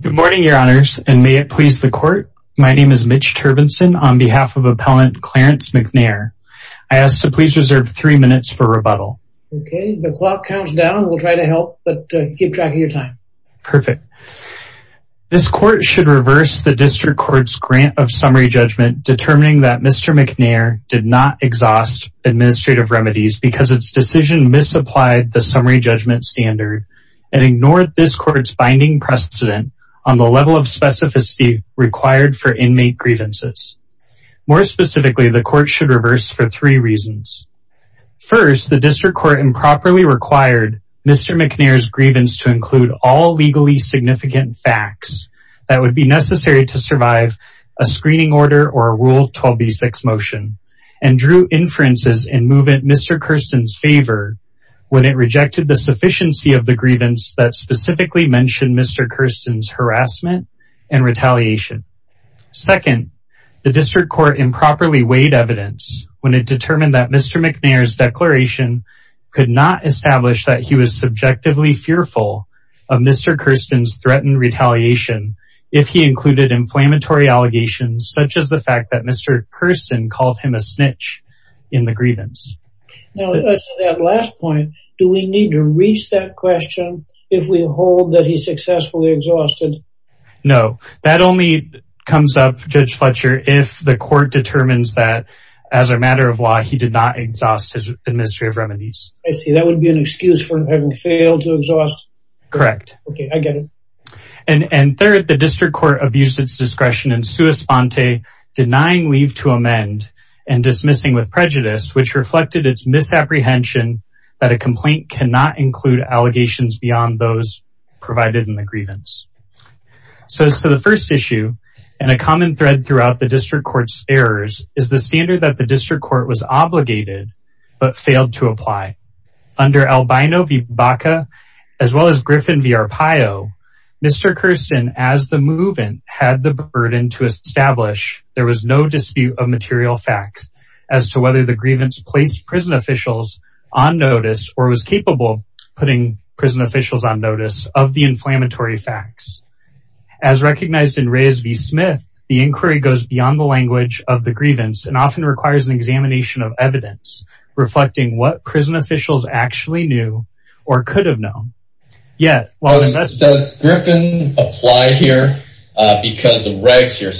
Good morning your honors and may it please the court. My name is Mitch Turbenson on behalf of appellant Clarence McNair. I ask to please reserve three minutes for rebuttal. Okay the clock counts down we'll try to help but keep track of your time. Perfect. This court should reverse the district court's grant of summary judgment determining that Mr. McNair did not exhaust administrative remedies because its decision misapplied the summary judgment standard and ignored this court's binding precedent on the level of specificity required for inmate grievances. More specifically the court should reverse for three reasons. First the district court improperly required Mr. McNair's grievance to include all legally significant facts that would be necessary to survive a screening order or a rule 12b6 motion and drew inferences in Mr. Kersten's favor when it rejected the sufficiency of the grievance that specifically mentioned Mr. Kersten's harassment and retaliation. Second the district court improperly weighed evidence when it determined that Mr. McNair's declaration could not establish that he was subjectively fearful of Mr. Kersten's threatened retaliation if he included inflammatory allegations such as the fact that Mr. Kersten called him a snitch in the grievance. Now that last point do we need to reach that question if we hold that he successfully exhausted? No that only comes up Judge Fletcher if the court determines that as a matter of law he did not exhaust his administrative remedies. I see that would be an excuse for having failed to exhaust. Correct. Okay I get it. And third the district court abused its discretion in sua sponte denying leave to amend and dismissing with prejudice which reflected its misapprehension that a complaint cannot include allegations beyond those provided in the grievance. So the first issue and a common thread throughout the district court's errors is the standard that the district Griffin v. Arpaio Mr. Kersten as the movement had the burden to establish there was no dispute of material facts as to whether the grievance placed prison officials on notice or was capable putting prison officials on notice of the inflammatory facts. As recognized in Reyes v. Smith the inquiry goes beyond the language of the grievance and often requires an examination of evidence reflecting what prison officials actually knew or could have known. Does Griffin apply here because the regs here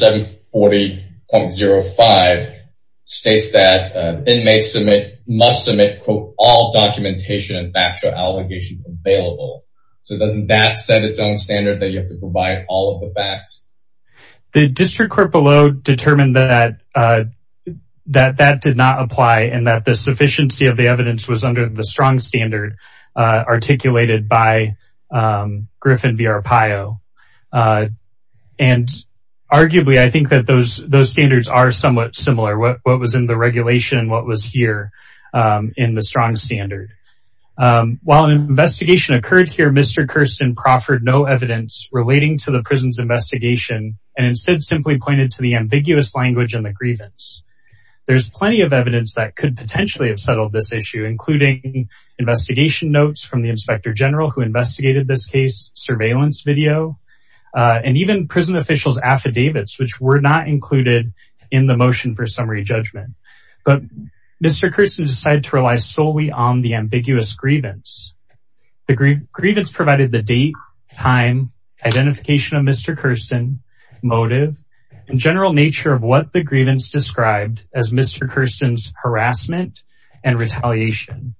740.05 states that inmates must submit quote all documentation and factual allegations available. So doesn't that set its own standard that you have to provide all of the facts? The district court below determined that that did not apply and that the sufficiency of the evidence was under the strong standard articulated by Griffin v. Arpaio. And arguably I think that those standards are somewhat similar what was in the regulation what was here in the strong standard. While an investigation occurred here Mr. Kersten proffered no evidence relating to the prison's investigation and instead simply pointed to the ambiguous language and the grievance. There's plenty of evidence that could potentially have settled this issue including investigation notes from the inspector general who investigated this case surveillance video and even prison officials affidavits which were not included in the motion for summary judgment. But Mr. Kersten decided to rely solely on the in general nature of what the grievance described as Mr. Kersten's harassment and retaliation.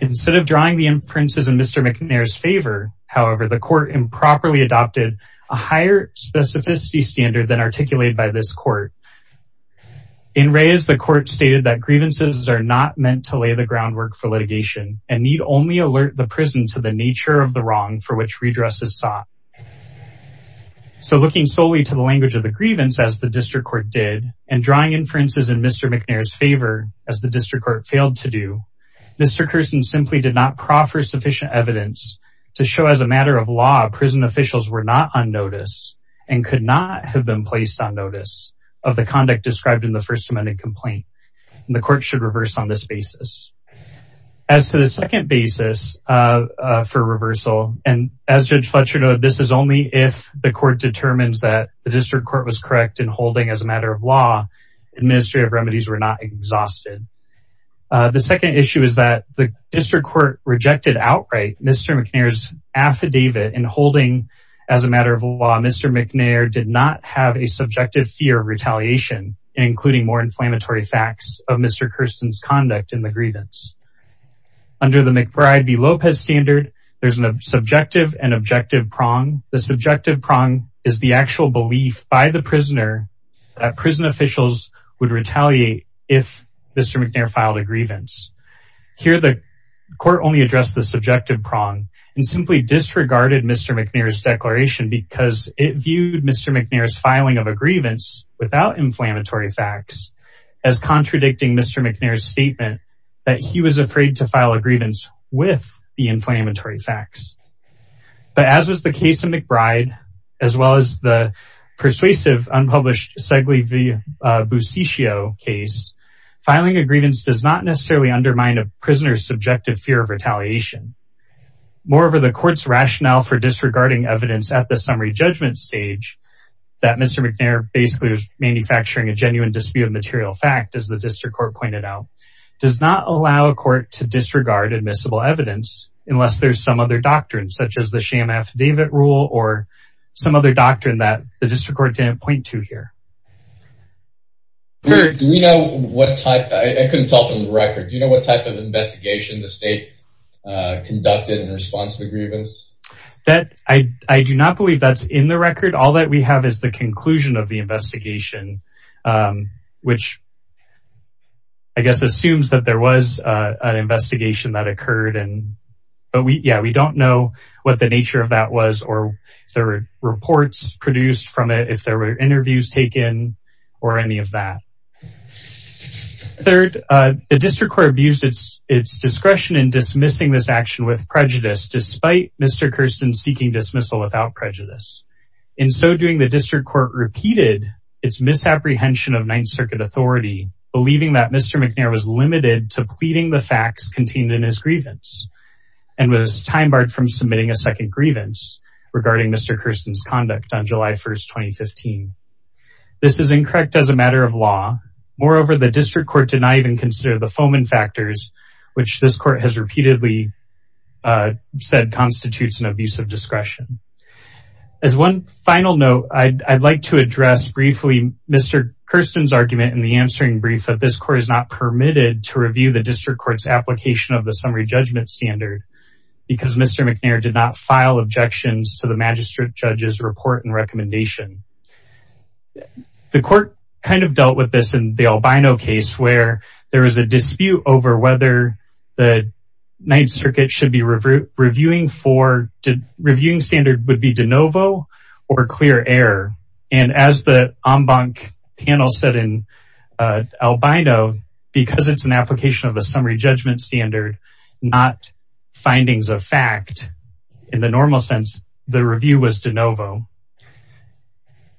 Instead of drawing the inferences in Mr. McNair's favor however the court improperly adopted a higher specificity standard than articulated by this court. In Reyes the court stated that grievances are not meant to lay the groundwork for litigation and need only alert the prison to the nature of wrong for which redress is sought. So looking solely to the language of the grievance as the district court did and drawing inferences in Mr. McNair's favor as the district court failed to do Mr. Kersten simply did not proffer sufficient evidence to show as a matter of law prison officials were not on notice and could not have been placed on notice of the conduct described in the first amendment complaint and the court should reverse on this basis. As to the second basis for reversal and as Judge Fletcher noted this is only if the court determines that the district court was correct in holding as a matter of law administrative remedies were not exhausted. The second issue is that the district court rejected outright Mr. McNair's affidavit and holding as a matter of law Mr. McNair did not have a subjective fear of retaliation including more inflammatory facts of Mr. Kersten's conduct in the grievance. Under the McBride v. Lopez standard there's a subjective and objective prong. The subjective prong is the actual belief by the prisoner that prison officials would retaliate if Mr. McNair filed a grievance. Here the court only addressed the subjective prong and simply disregarded Mr. McNair's declaration because it viewed Mr. McNair's filing of a grievance without inflammatory facts as contradicting Mr. McNair's statement that he was afraid to file a grievance with the inflammatory facts. But as was the case of McBride as well as the persuasive unpublished Segley v. Busciccio case filing a grievance does not necessarily undermine a prisoner's subjective fear of retaliation. Moreover the court's rationale for disregarding evidence at the summary judgment stage that Mr. McNair basically was manufacturing a genuine dispute material fact as the district court pointed out does not allow a court to disregard admissible evidence unless there's some other doctrine such as the sham affidavit rule or some other doctrine that the district court didn't point to here. Do we know what type I couldn't tell from the record do you know what type of investigation the state conducted in response to the grievance? That I do not believe that's in the record all that we have is the conclusion of the investigation which I guess assumes that there was an investigation that occurred and but we yeah we don't know what the nature of that was or if there were reports produced from it if there were interviews taken or any of that. Third the district court abused its discretion in dismissing this action with prejudice despite Mr. Kirsten seeking dismissal without prejudice. In so doing the authority believing that Mr. McNair was limited to pleading the facts contained in his grievance and was time barred from submitting a second grievance regarding Mr. Kirsten's conduct on July 1st 2015. This is incorrect as a matter of law moreover the district court did not even consider the Fomen factors which this court has repeatedly said constitutes an abusive discretion. As one final note I'd like to address briefly Mr. Kirsten's argument in the answering brief that this court is not permitted to review the district court's application of the summary judgment standard because Mr. McNair did not file objections to the magistrate judge's report and recommendation. The court kind of dealt with this in the Albino case where there was a dispute over the ninth circuit should be reviewing for to reviewing standard would be de novo or clear error and as the en banc panel said in Albino because it's an application of a summary judgment standard not findings of fact in the normal sense the review was de novo.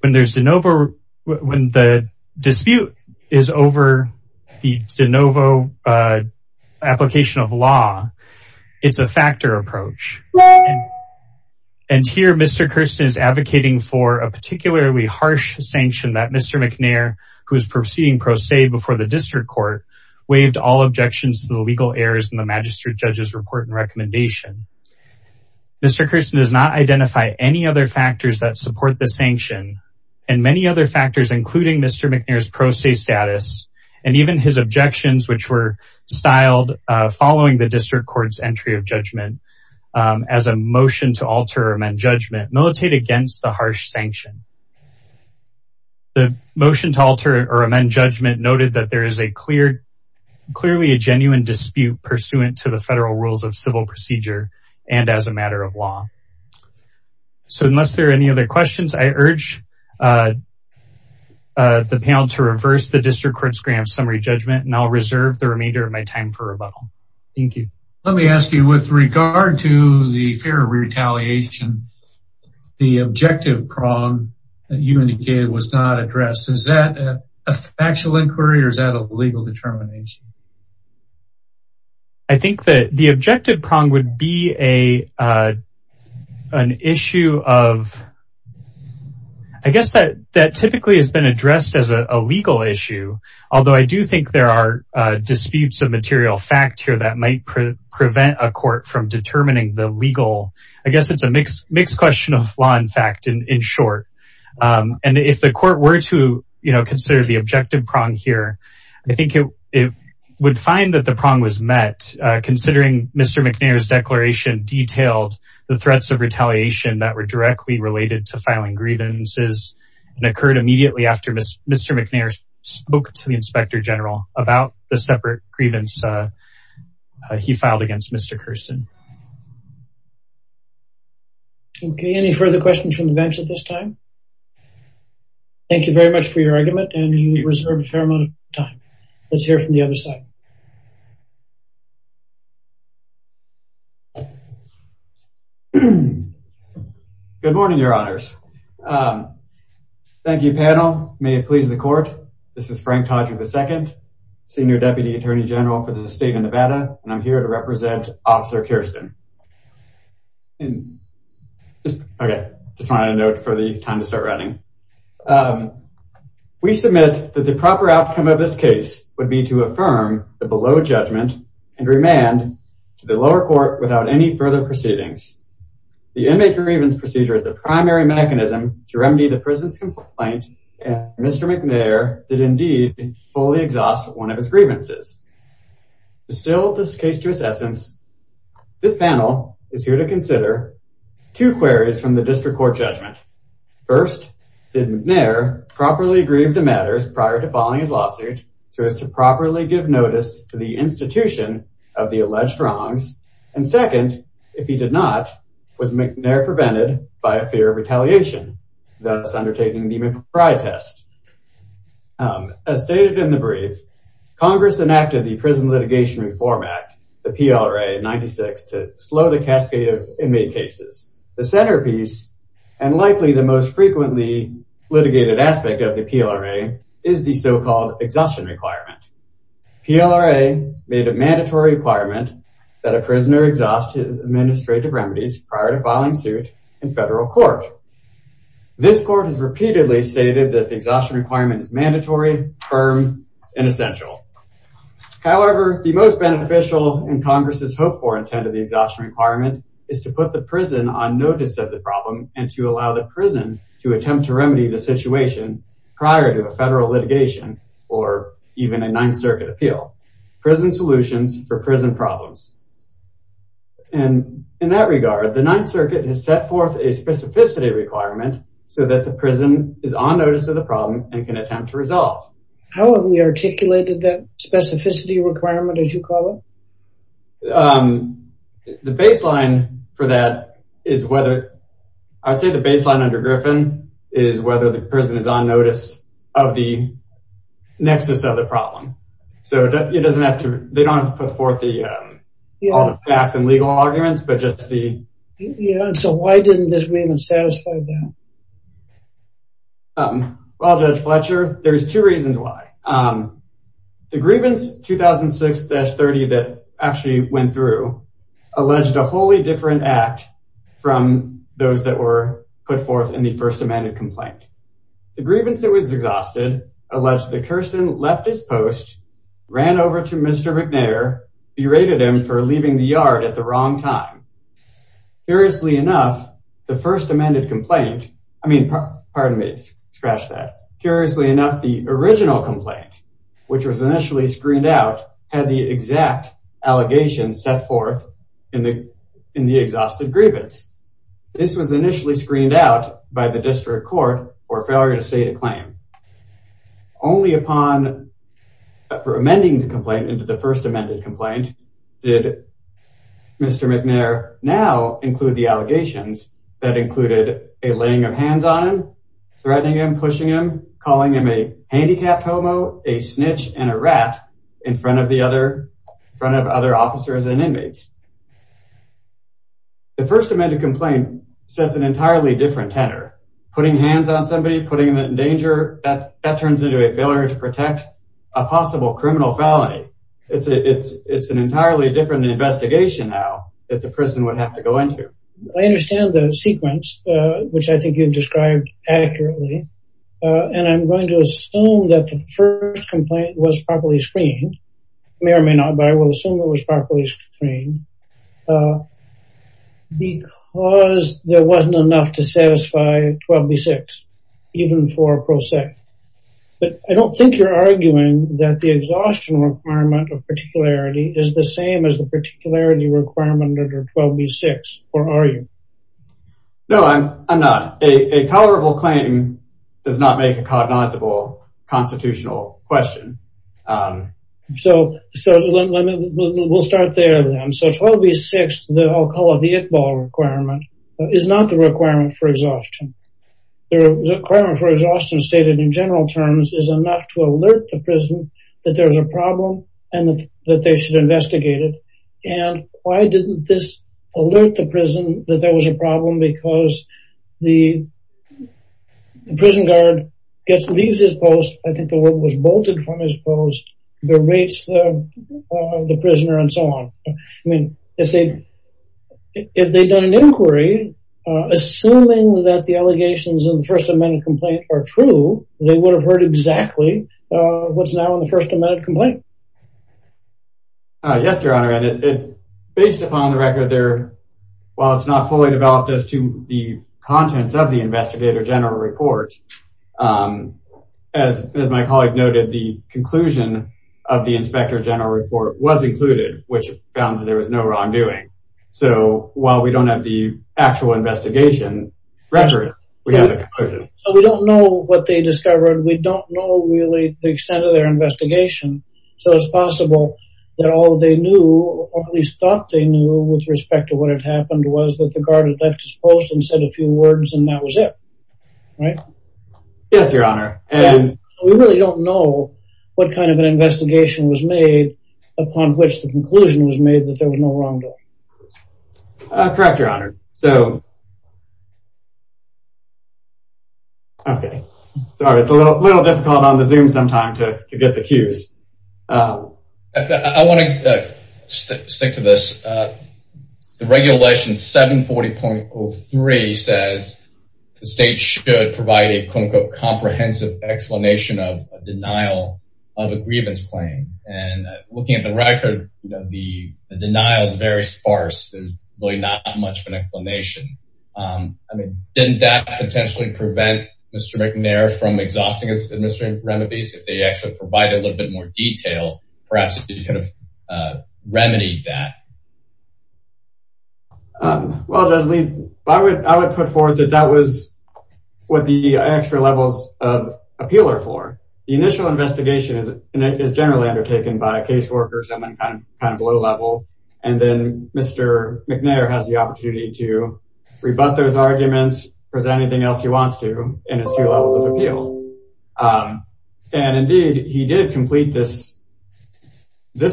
When there's de novo when the dispute is over the de novo application of law it's a factor approach and here Mr. Kirsten is advocating for a particularly harsh sanction that Mr. McNair who's proceeding pro se before the district court waived all objections to the legal errors in the magistrate judge's report and recommendation. Mr. Kirsten does not identify any other factors that including Mr. McNair's pro se status and even his objections which were styled following the district court's entry of judgment as a motion to alter or amend judgment militate against the harsh sanction. The motion to alter or amend judgment noted that there is a clear clearly a genuine dispute pursuant to the federal rules of civil procedure and as a matter of law. So unless there any other questions I urge the panel to reverse the district court's grant summary judgment and I'll reserve the remainder of my time for rebuttal. Thank you. Let me ask you with regard to the fear of retaliation the objective prong that you indicated was not addressed is that a factual inquiry or is that a legal determination? I think that the objective prong would be an issue of I guess that that typically has been addressed as a legal issue although I do think there are disputes of material fact here that might prevent a court from determining the legal. I guess it's a mixed question of law in fact in short and if the court were to you know consider the objective prong here I think it would find that the prong was met considering Mr. McNair's declaration detailed the threats of retaliation that were directly related to filing grievances and occurred immediately after Mr. McNair spoke to the inspector general about the separate grievance he filed against Mr. Kirsten. Okay any further questions from the bench at this time? Thank you very much for your argument and you reserve a fair amount of time. Let's hear from the other side. Good morning your honors. Thank you panel. May it please the court. This is Frank Todrick the second senior deputy attorney general for the state of Nevada and I'm here to represent officer Kirsten. Okay just wanted a note for the time to start running. We submit that the proper outcome of this case would be to affirm the below judgment and remand to the lower court without any further proceedings. The inmate grievance procedure is the primary mechanism to remedy the prison's complaint and Mr. McNair did indeed fully exhaust one of his grievances. To distill this case to its essence this panel is here to consider two queries from the district court judgment. First did McNair properly grieve the matters prior to filing his lawsuit so as to if he did not was McNair prevented by a fear of retaliation thus undertaking the McFry test. As stated in the brief congress enacted the prison litigation reform act the PLRA 96 to slow the cascade of inmate cases. The centerpiece and likely the most frequently litigated aspect of the PLRA is the so-called exhaustion requirement. PLRA made a mandatory requirement that a prisoner administrative remedies prior to filing suit in federal court. This court has repeatedly stated that the exhaustion requirement is mandatory firm and essential. However the most beneficial and congress's hope for intent of the exhaustion requirement is to put the prison on notice of the problem and to allow the prison to attempt to remedy the situation prior to a federal litigation or even a ninth circuit appeal. Prison solutions for prison problems and in that regard the ninth circuit has set forth a specificity requirement so that the prison is on notice of the problem and can attempt to resolve. How have we articulated that specificity requirement as you call it? The baseline for that is whether I'd say the baseline under Griffin is whether the prison is on notice of the nexus of the problem. So it doesn't have to they don't have to put forth the all the facts and legal arguments but just the you know. So why didn't this agreement satisfy that? Well Judge Fletcher there's two reasons why. The grievance 2006-30 that actually went through alleged a wholly different act from those that were put forth in the first amended complaint. The grievance that was exhausted alleged the person left his post, ran over to Mr. McNair, berated him for leaving the yard at the wrong time. Curiously enough the first amended complaint I mean pardon me scratch that. Curiously enough the original complaint which was initially screened out had the exact allegations set forth in the in the exhausted grievance. This was initially screened out by the district court for failure to state a claim. Only upon for amending the complaint into the first amended complaint did Mr. McNair now include the allegations that included a laying of hands on him, threatening him, pushing him, calling him a handicapped homo, a snitch, and a rat in front of the other front of other officers and inmates. The first amended complaint says an entirely different tenor. Putting hands on somebody, putting them in danger, that turns into a failure to protect a possible criminal felony. It's an entirely different investigation now that the person would have to go into. I understand the sequence which I think you've described accurately and I'm going to assume that the first complaint was properly screened. May or may not but I will assume it was properly screened because there wasn't enough to satisfy 12b6 even for a pro se. But I don't think you're arguing that the exhaustion requirement of particularity is the same as the particularity requirement under 12b6 or are you? No I'm not. A tolerable claim does not make a cognizable constitutional question. So we'll start there then. So 12b6, I'll call it the Iqbal requirement, is not the requirement for exhaustion. The requirement for exhaustion stated in general terms is enough to alert the prison that there's a problem and that they should investigate it. And why didn't this alert the prison that there was a problem because the prison guard leaves his post, I think the word was bolted from his post, berates the prisoner and so on. I mean if they'd done an inquiry, assuming that the allegations in the first amendment complaint are true, they would have heard exactly what's now in the first amendment complaint. Yes your honor and based upon the record there, while it's not fully developed as to the contents of the investigator general report, as my colleague noted, the conclusion of the inspector general report was included, which found that there was no wrongdoing. So while we don't have the actual investigation record, we have the conclusion. So we don't know what they discovered, we don't know really the extent of their investigation, so it's possible that all they knew or at least thought they knew with respect to what had happened was that the guard had left his post and said a few words and that was it. Right? Yes your honor. And we really don't know what kind of an investigation was made upon which the conclusion was made that there was no wrongdoing. Correct your honor. So okay sorry it's a little difficult on the zoom sometime to get the cues. I want to stick to this. The regulation 740.03 says the state should provide a quote-unquote comprehensive explanation of a denial of a grievance claim. And looking at the record, you know, the denial is very sparse. There's really not much of an explanation. I mean didn't that potentially prevent Mr. McNair from exhausting his administrative remedies if they actually provide a little bit more detail? Perhaps it could have remedied that. Well Judge Lee, I would put forth that that was what the extra levels of appeal are for. The initial investigation is generally undertaken by a caseworker, someone kind of low level, and then Mr. McNair has the opportunity to rebut those arguments, present anything else he wants to in his two levels of appeal. And indeed he did complete this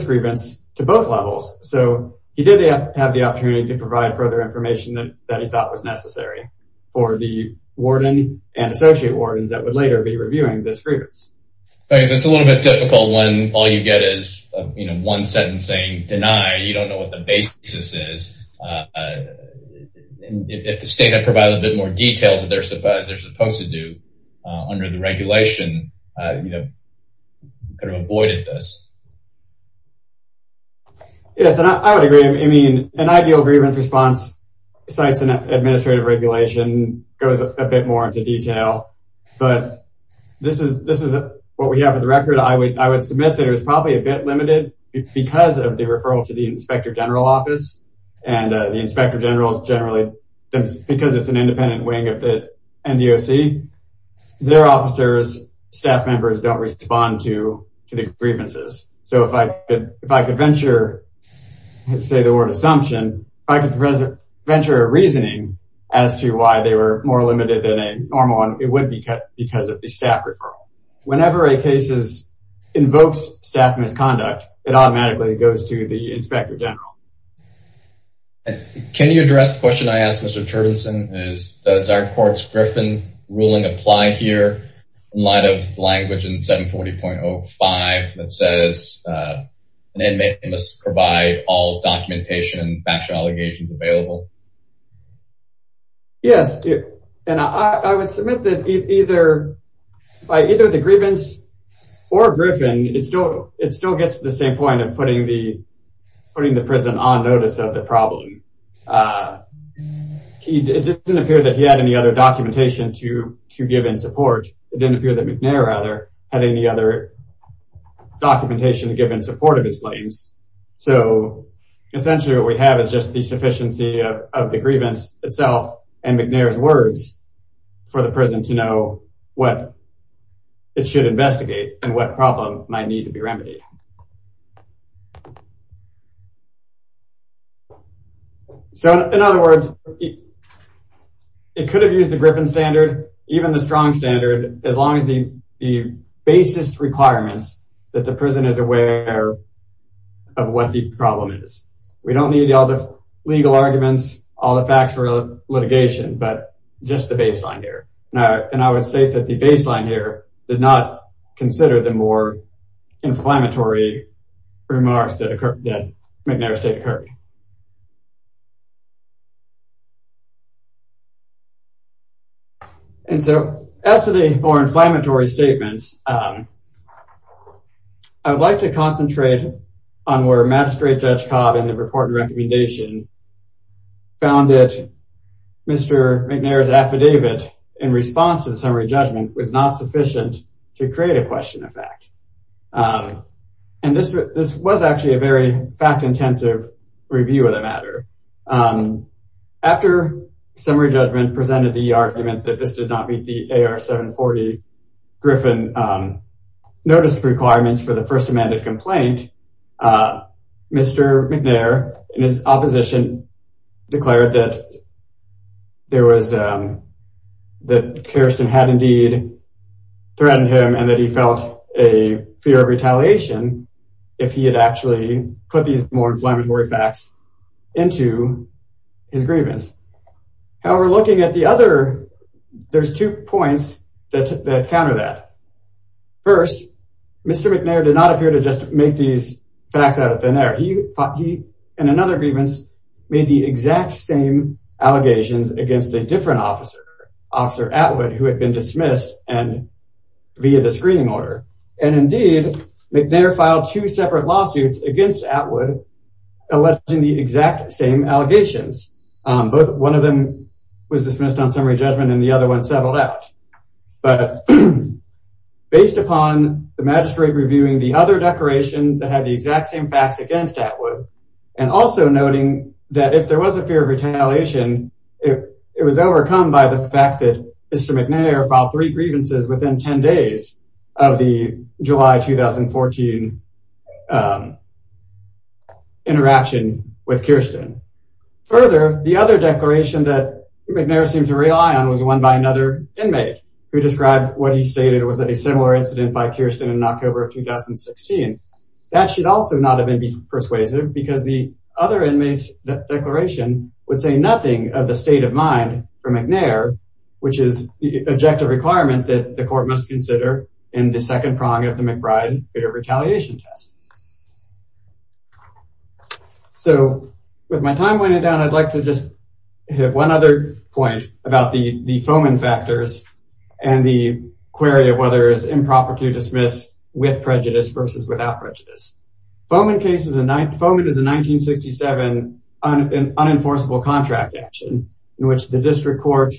grievance to both levels. So he did have the opportunity to provide further information that he thought was necessary for the warden and associate wardens that would later be reviewing this grievance. It's a little bit difficult when all you get is one sentence saying deny. You don't know what the details of their surprise they're supposed to do under the regulation, you know, could have avoided this. Yes, and I would agree. I mean an ideal grievance response cites an administrative regulation, goes a bit more into detail, but this is what we have in the record. I would submit that it was probably a bit limited because of the referral to the inspector general office and the inspector general's generally, because it's an independent wing of the NDOC, their officers, staff members don't respond to the grievances. So if I could venture, say the word assumption, if I could venture a reasoning as to why they were more limited than a normal one, it would be because of the staff referral. Whenever a case invokes staff misconduct, it automatically goes to the inspector general. Can you address the question I asked Mr. Turdenson? Does our court's Griffin ruling apply here in light of language in 740.05 that says an inmate must provide all documentation and factual allegations available? Yes, and I would submit that either by either the putting the prison on notice of the problem. It didn't appear that he had any other documentation to give in support. It didn't appear that McNair, rather, had any other documentation to give in support of his claims. So essentially what we have is just the sufficiency of the grievance itself and McNair's words for the prison to know what it should investigate and what problem might need to be remedied. So in other words, it could have used the Griffin standard, even the strong standard, as long as the basis requirements that the prison is aware of what the problem is. We don't need all the legal arguments, all the facts for litigation, but just the baseline here. And I would say that the baseline here did not consider the more inflammatory remarks that McNair's state occurred. And so as to the more inflammatory statements, I would like to concentrate on where Magistrate Judge Cobb in the report and recommendation found that Mr. McNair's affidavit in response to the summary judgment was not sufficient to create a question of fact. And this was actually a very fact-intensive review of the matter. After summary judgment presented the argument that this did not meet the AR 740 Griffin notice requirements for the first amended complaint, Mr. McNair and his opposition declared that Karestan had indeed threatened him and that he felt a fear of retaliation if he had actually put these more inflammatory facts into his grievance. However, looking at the other, there's two points that counter that. First, Mr. McNair did not appear to just make these facts out of thin air. He, in another grievance, made the exact same allegations against a different officer, Officer Atwood, who had been dismissed via the screening order. And indeed, McNair filed two separate lawsuits against Atwood alleging the exact same allegations. One of them was dismissed on summary judgment and the other one settled out. But based upon the magistrate reviewing the other declaration that had the exact same facts against Atwood and also noting that if there was a fear of retaliation, it was overcome by the fact that Mr. McNair filed three grievances within 10 days of the July 2014 interaction with Karestan. Further, the other declaration that was dismissed by another inmate who described what he stated was a similar incident by Karestan in October of 2016, that should also not have been persuasive because the other inmate's declaration would say nothing of the state of mind for McNair, which is the objective requirement that the court must consider in the second prong of the McBride fear of retaliation test. So, with my time running down, I'd like to just have one other point about the Foman factors and the query of whether it's improper to dismiss with prejudice versus without prejudice. Foman is a 1967 unenforceable contract action in which the district court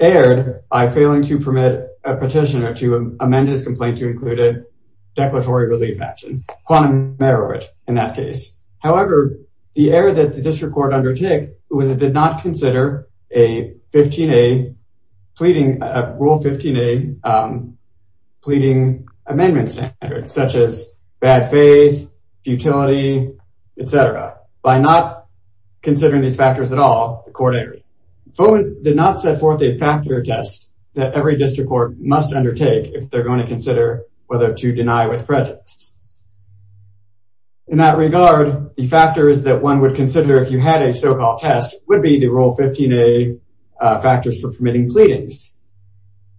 erred by failing to permit a petitioner to amend his complaint to include a quantum error in that case. However, the error that the district court undertook was it did not consider a Rule 15A pleading amendment standard such as bad faith, futility, etc. By not considering these factors at all, the court erred. Foman did not set forth a factor test that every district court must undertake if they're going to consider whether to deny with prejudice. In that regard, the factors that one would consider if you had a so-called test would be the Rule 15A factors for permitting pleadings.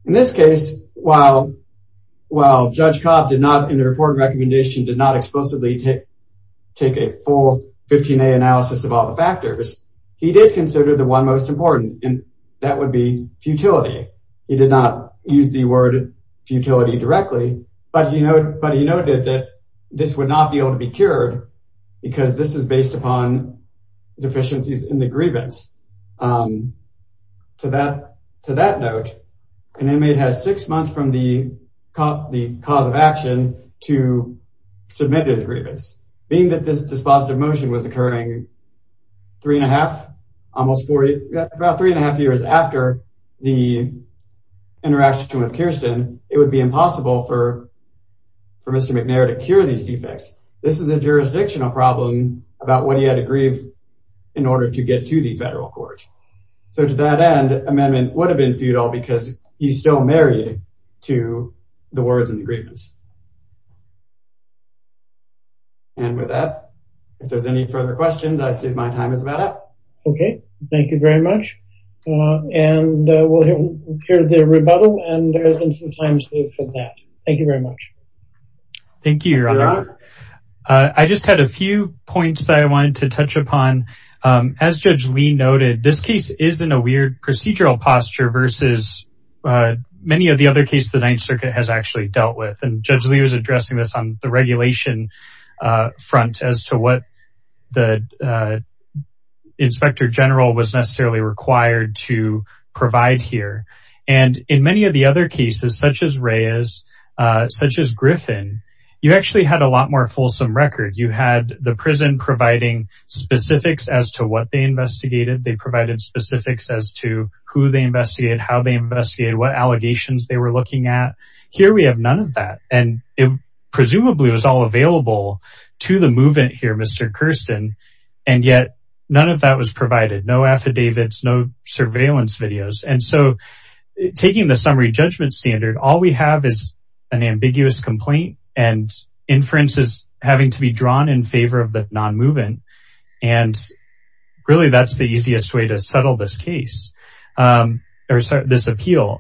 In this case, while Judge Cobb did not, in the report and recommendation, did not explicitly take a full 15A analysis of all the factors, he did consider the one most important, and he did not use the word futility directly, but he noted that this would not be able to be cured because this is based upon deficiencies in the grievance. To that note, an inmate has six months from the cause of action to submit his grievance. Being that this dispositive motion was occurring three and a half, almost four, about three and a half years after the interaction with Kirsten, it would be impossible for Mr. McNair to cure these defects. This is a jurisdictional problem about what he had to grieve in order to get to the federal court. So to that end, amendment would have been futile because he's still married to the words and the grievance. And with that, if there's any further questions, I see my time is about up. Okay, thank you very much. And we'll hear the rebuttal, and there has been some time saved for that. Thank you very much. Thank you, Your Honor. I just had a few points that I wanted to touch upon. As Judge Lee noted, this case is in a weird procedural posture versus many of the other cases the Ninth Circuit has actually dealt with. And Judge Lee was addressing this on the regulation front as to what the Inspector General was necessarily required to provide here. And in many of the other cases, such as Reyes, such as Griffin, you actually had a lot more fulsome record. You had the prison providing specifics as to what they investigated. They provided specifics as to who they investigated, how they investigated, what allegations they were looking at. Here we have none of that. And it presumably was all available to the movant here, Mr. Kirsten, and yet none of that was provided. No affidavits, no surveillance videos. And so taking the summary judgment standard, all we have is an ambiguous complaint and inferences having to be drawn in favor of the non-movant. And really, that's the easiest way to settle this case or this appeal.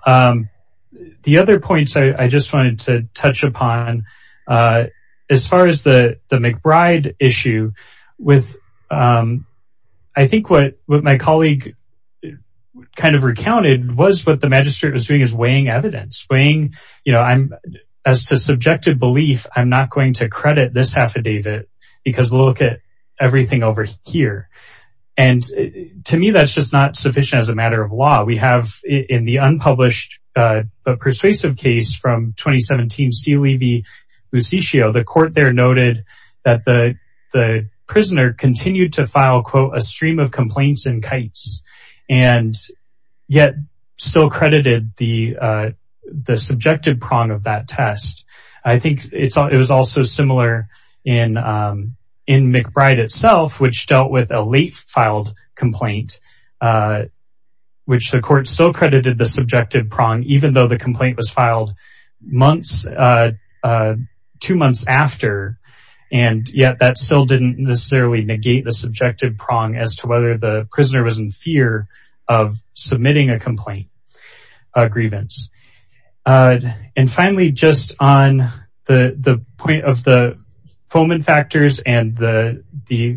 The other points I just wanted to touch upon as far as the McBride issue with I think what my colleague kind of recounted was what the magistrate was doing is weighing evidence, weighing, you know, as to subjective belief, I'm not going to credit this affidavit because look at everything over here. And to me, that's just not sufficient as a matter of law. We have in the unpublished, but persuasive case from 2017, Silevi-Lusitio, the court there noted that the prisoner continued to file, quote, a stream of complaints and kites, and yet still credited the subjective prong of that test. I think it was also similar in McBride itself, which dealt with a late filed complaint, which the court still credited the subjective prong, even though the complaint was filed months, two months after, and yet that still didn't necessarily negate the subjective prong as to whether the prisoner was in fear of submitting a complaint, a grievance. And finally, just on the point of the Fomen factors and the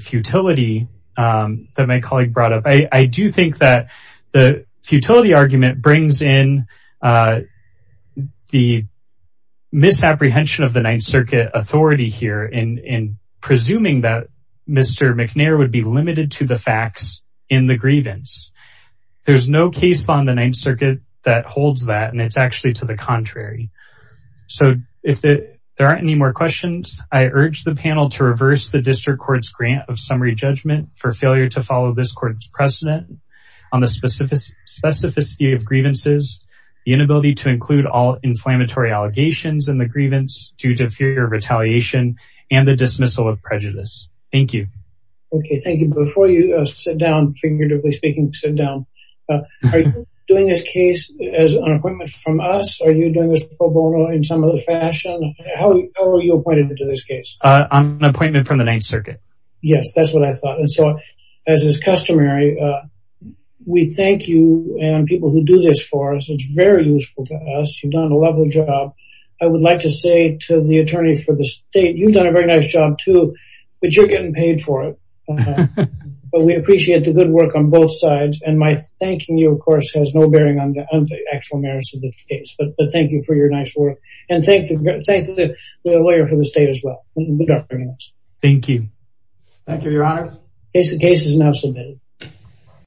futility that my colleague brought up, I do think that the futility argument brings in the misapprehension of the Ninth Circuit authority here in presuming that Mr. McNair would be limited to the facts in the grievance. There's no case on the Ninth Circuit that holds that, and it's actually to the contrary. So if there aren't any more questions, I urge the panel to reverse the district court's grant of summary judgment for failure to follow this court's precedent on the specificity of grievances, the inability to include all inflammatory allegations in the grievance due to fear of retaliation and the dismissal of prejudice. Thank you. Okay, thank you. Before you sit down, figuratively speaking, sit down, are you doing this case as an appointment from us? Are you doing this pro bono in some other fashion? How are you appointed to this case? An appointment from the Ninth Circuit. Yes, that's what I thought. And so, as is customary, we thank you and people who do this for us. It's very useful to us. You've done a lovely job. I would like to say to the attorney for the state, you've done a very nice job too, but you're getting paid for it. But we appreciate the good work on both sides. And my thanking you, of course, has no bearing on the actual merits of the case. But thank you for your nice work. And thank the lawyer for the state as well. Thank you. Thank you, your honor. Case is now submitted.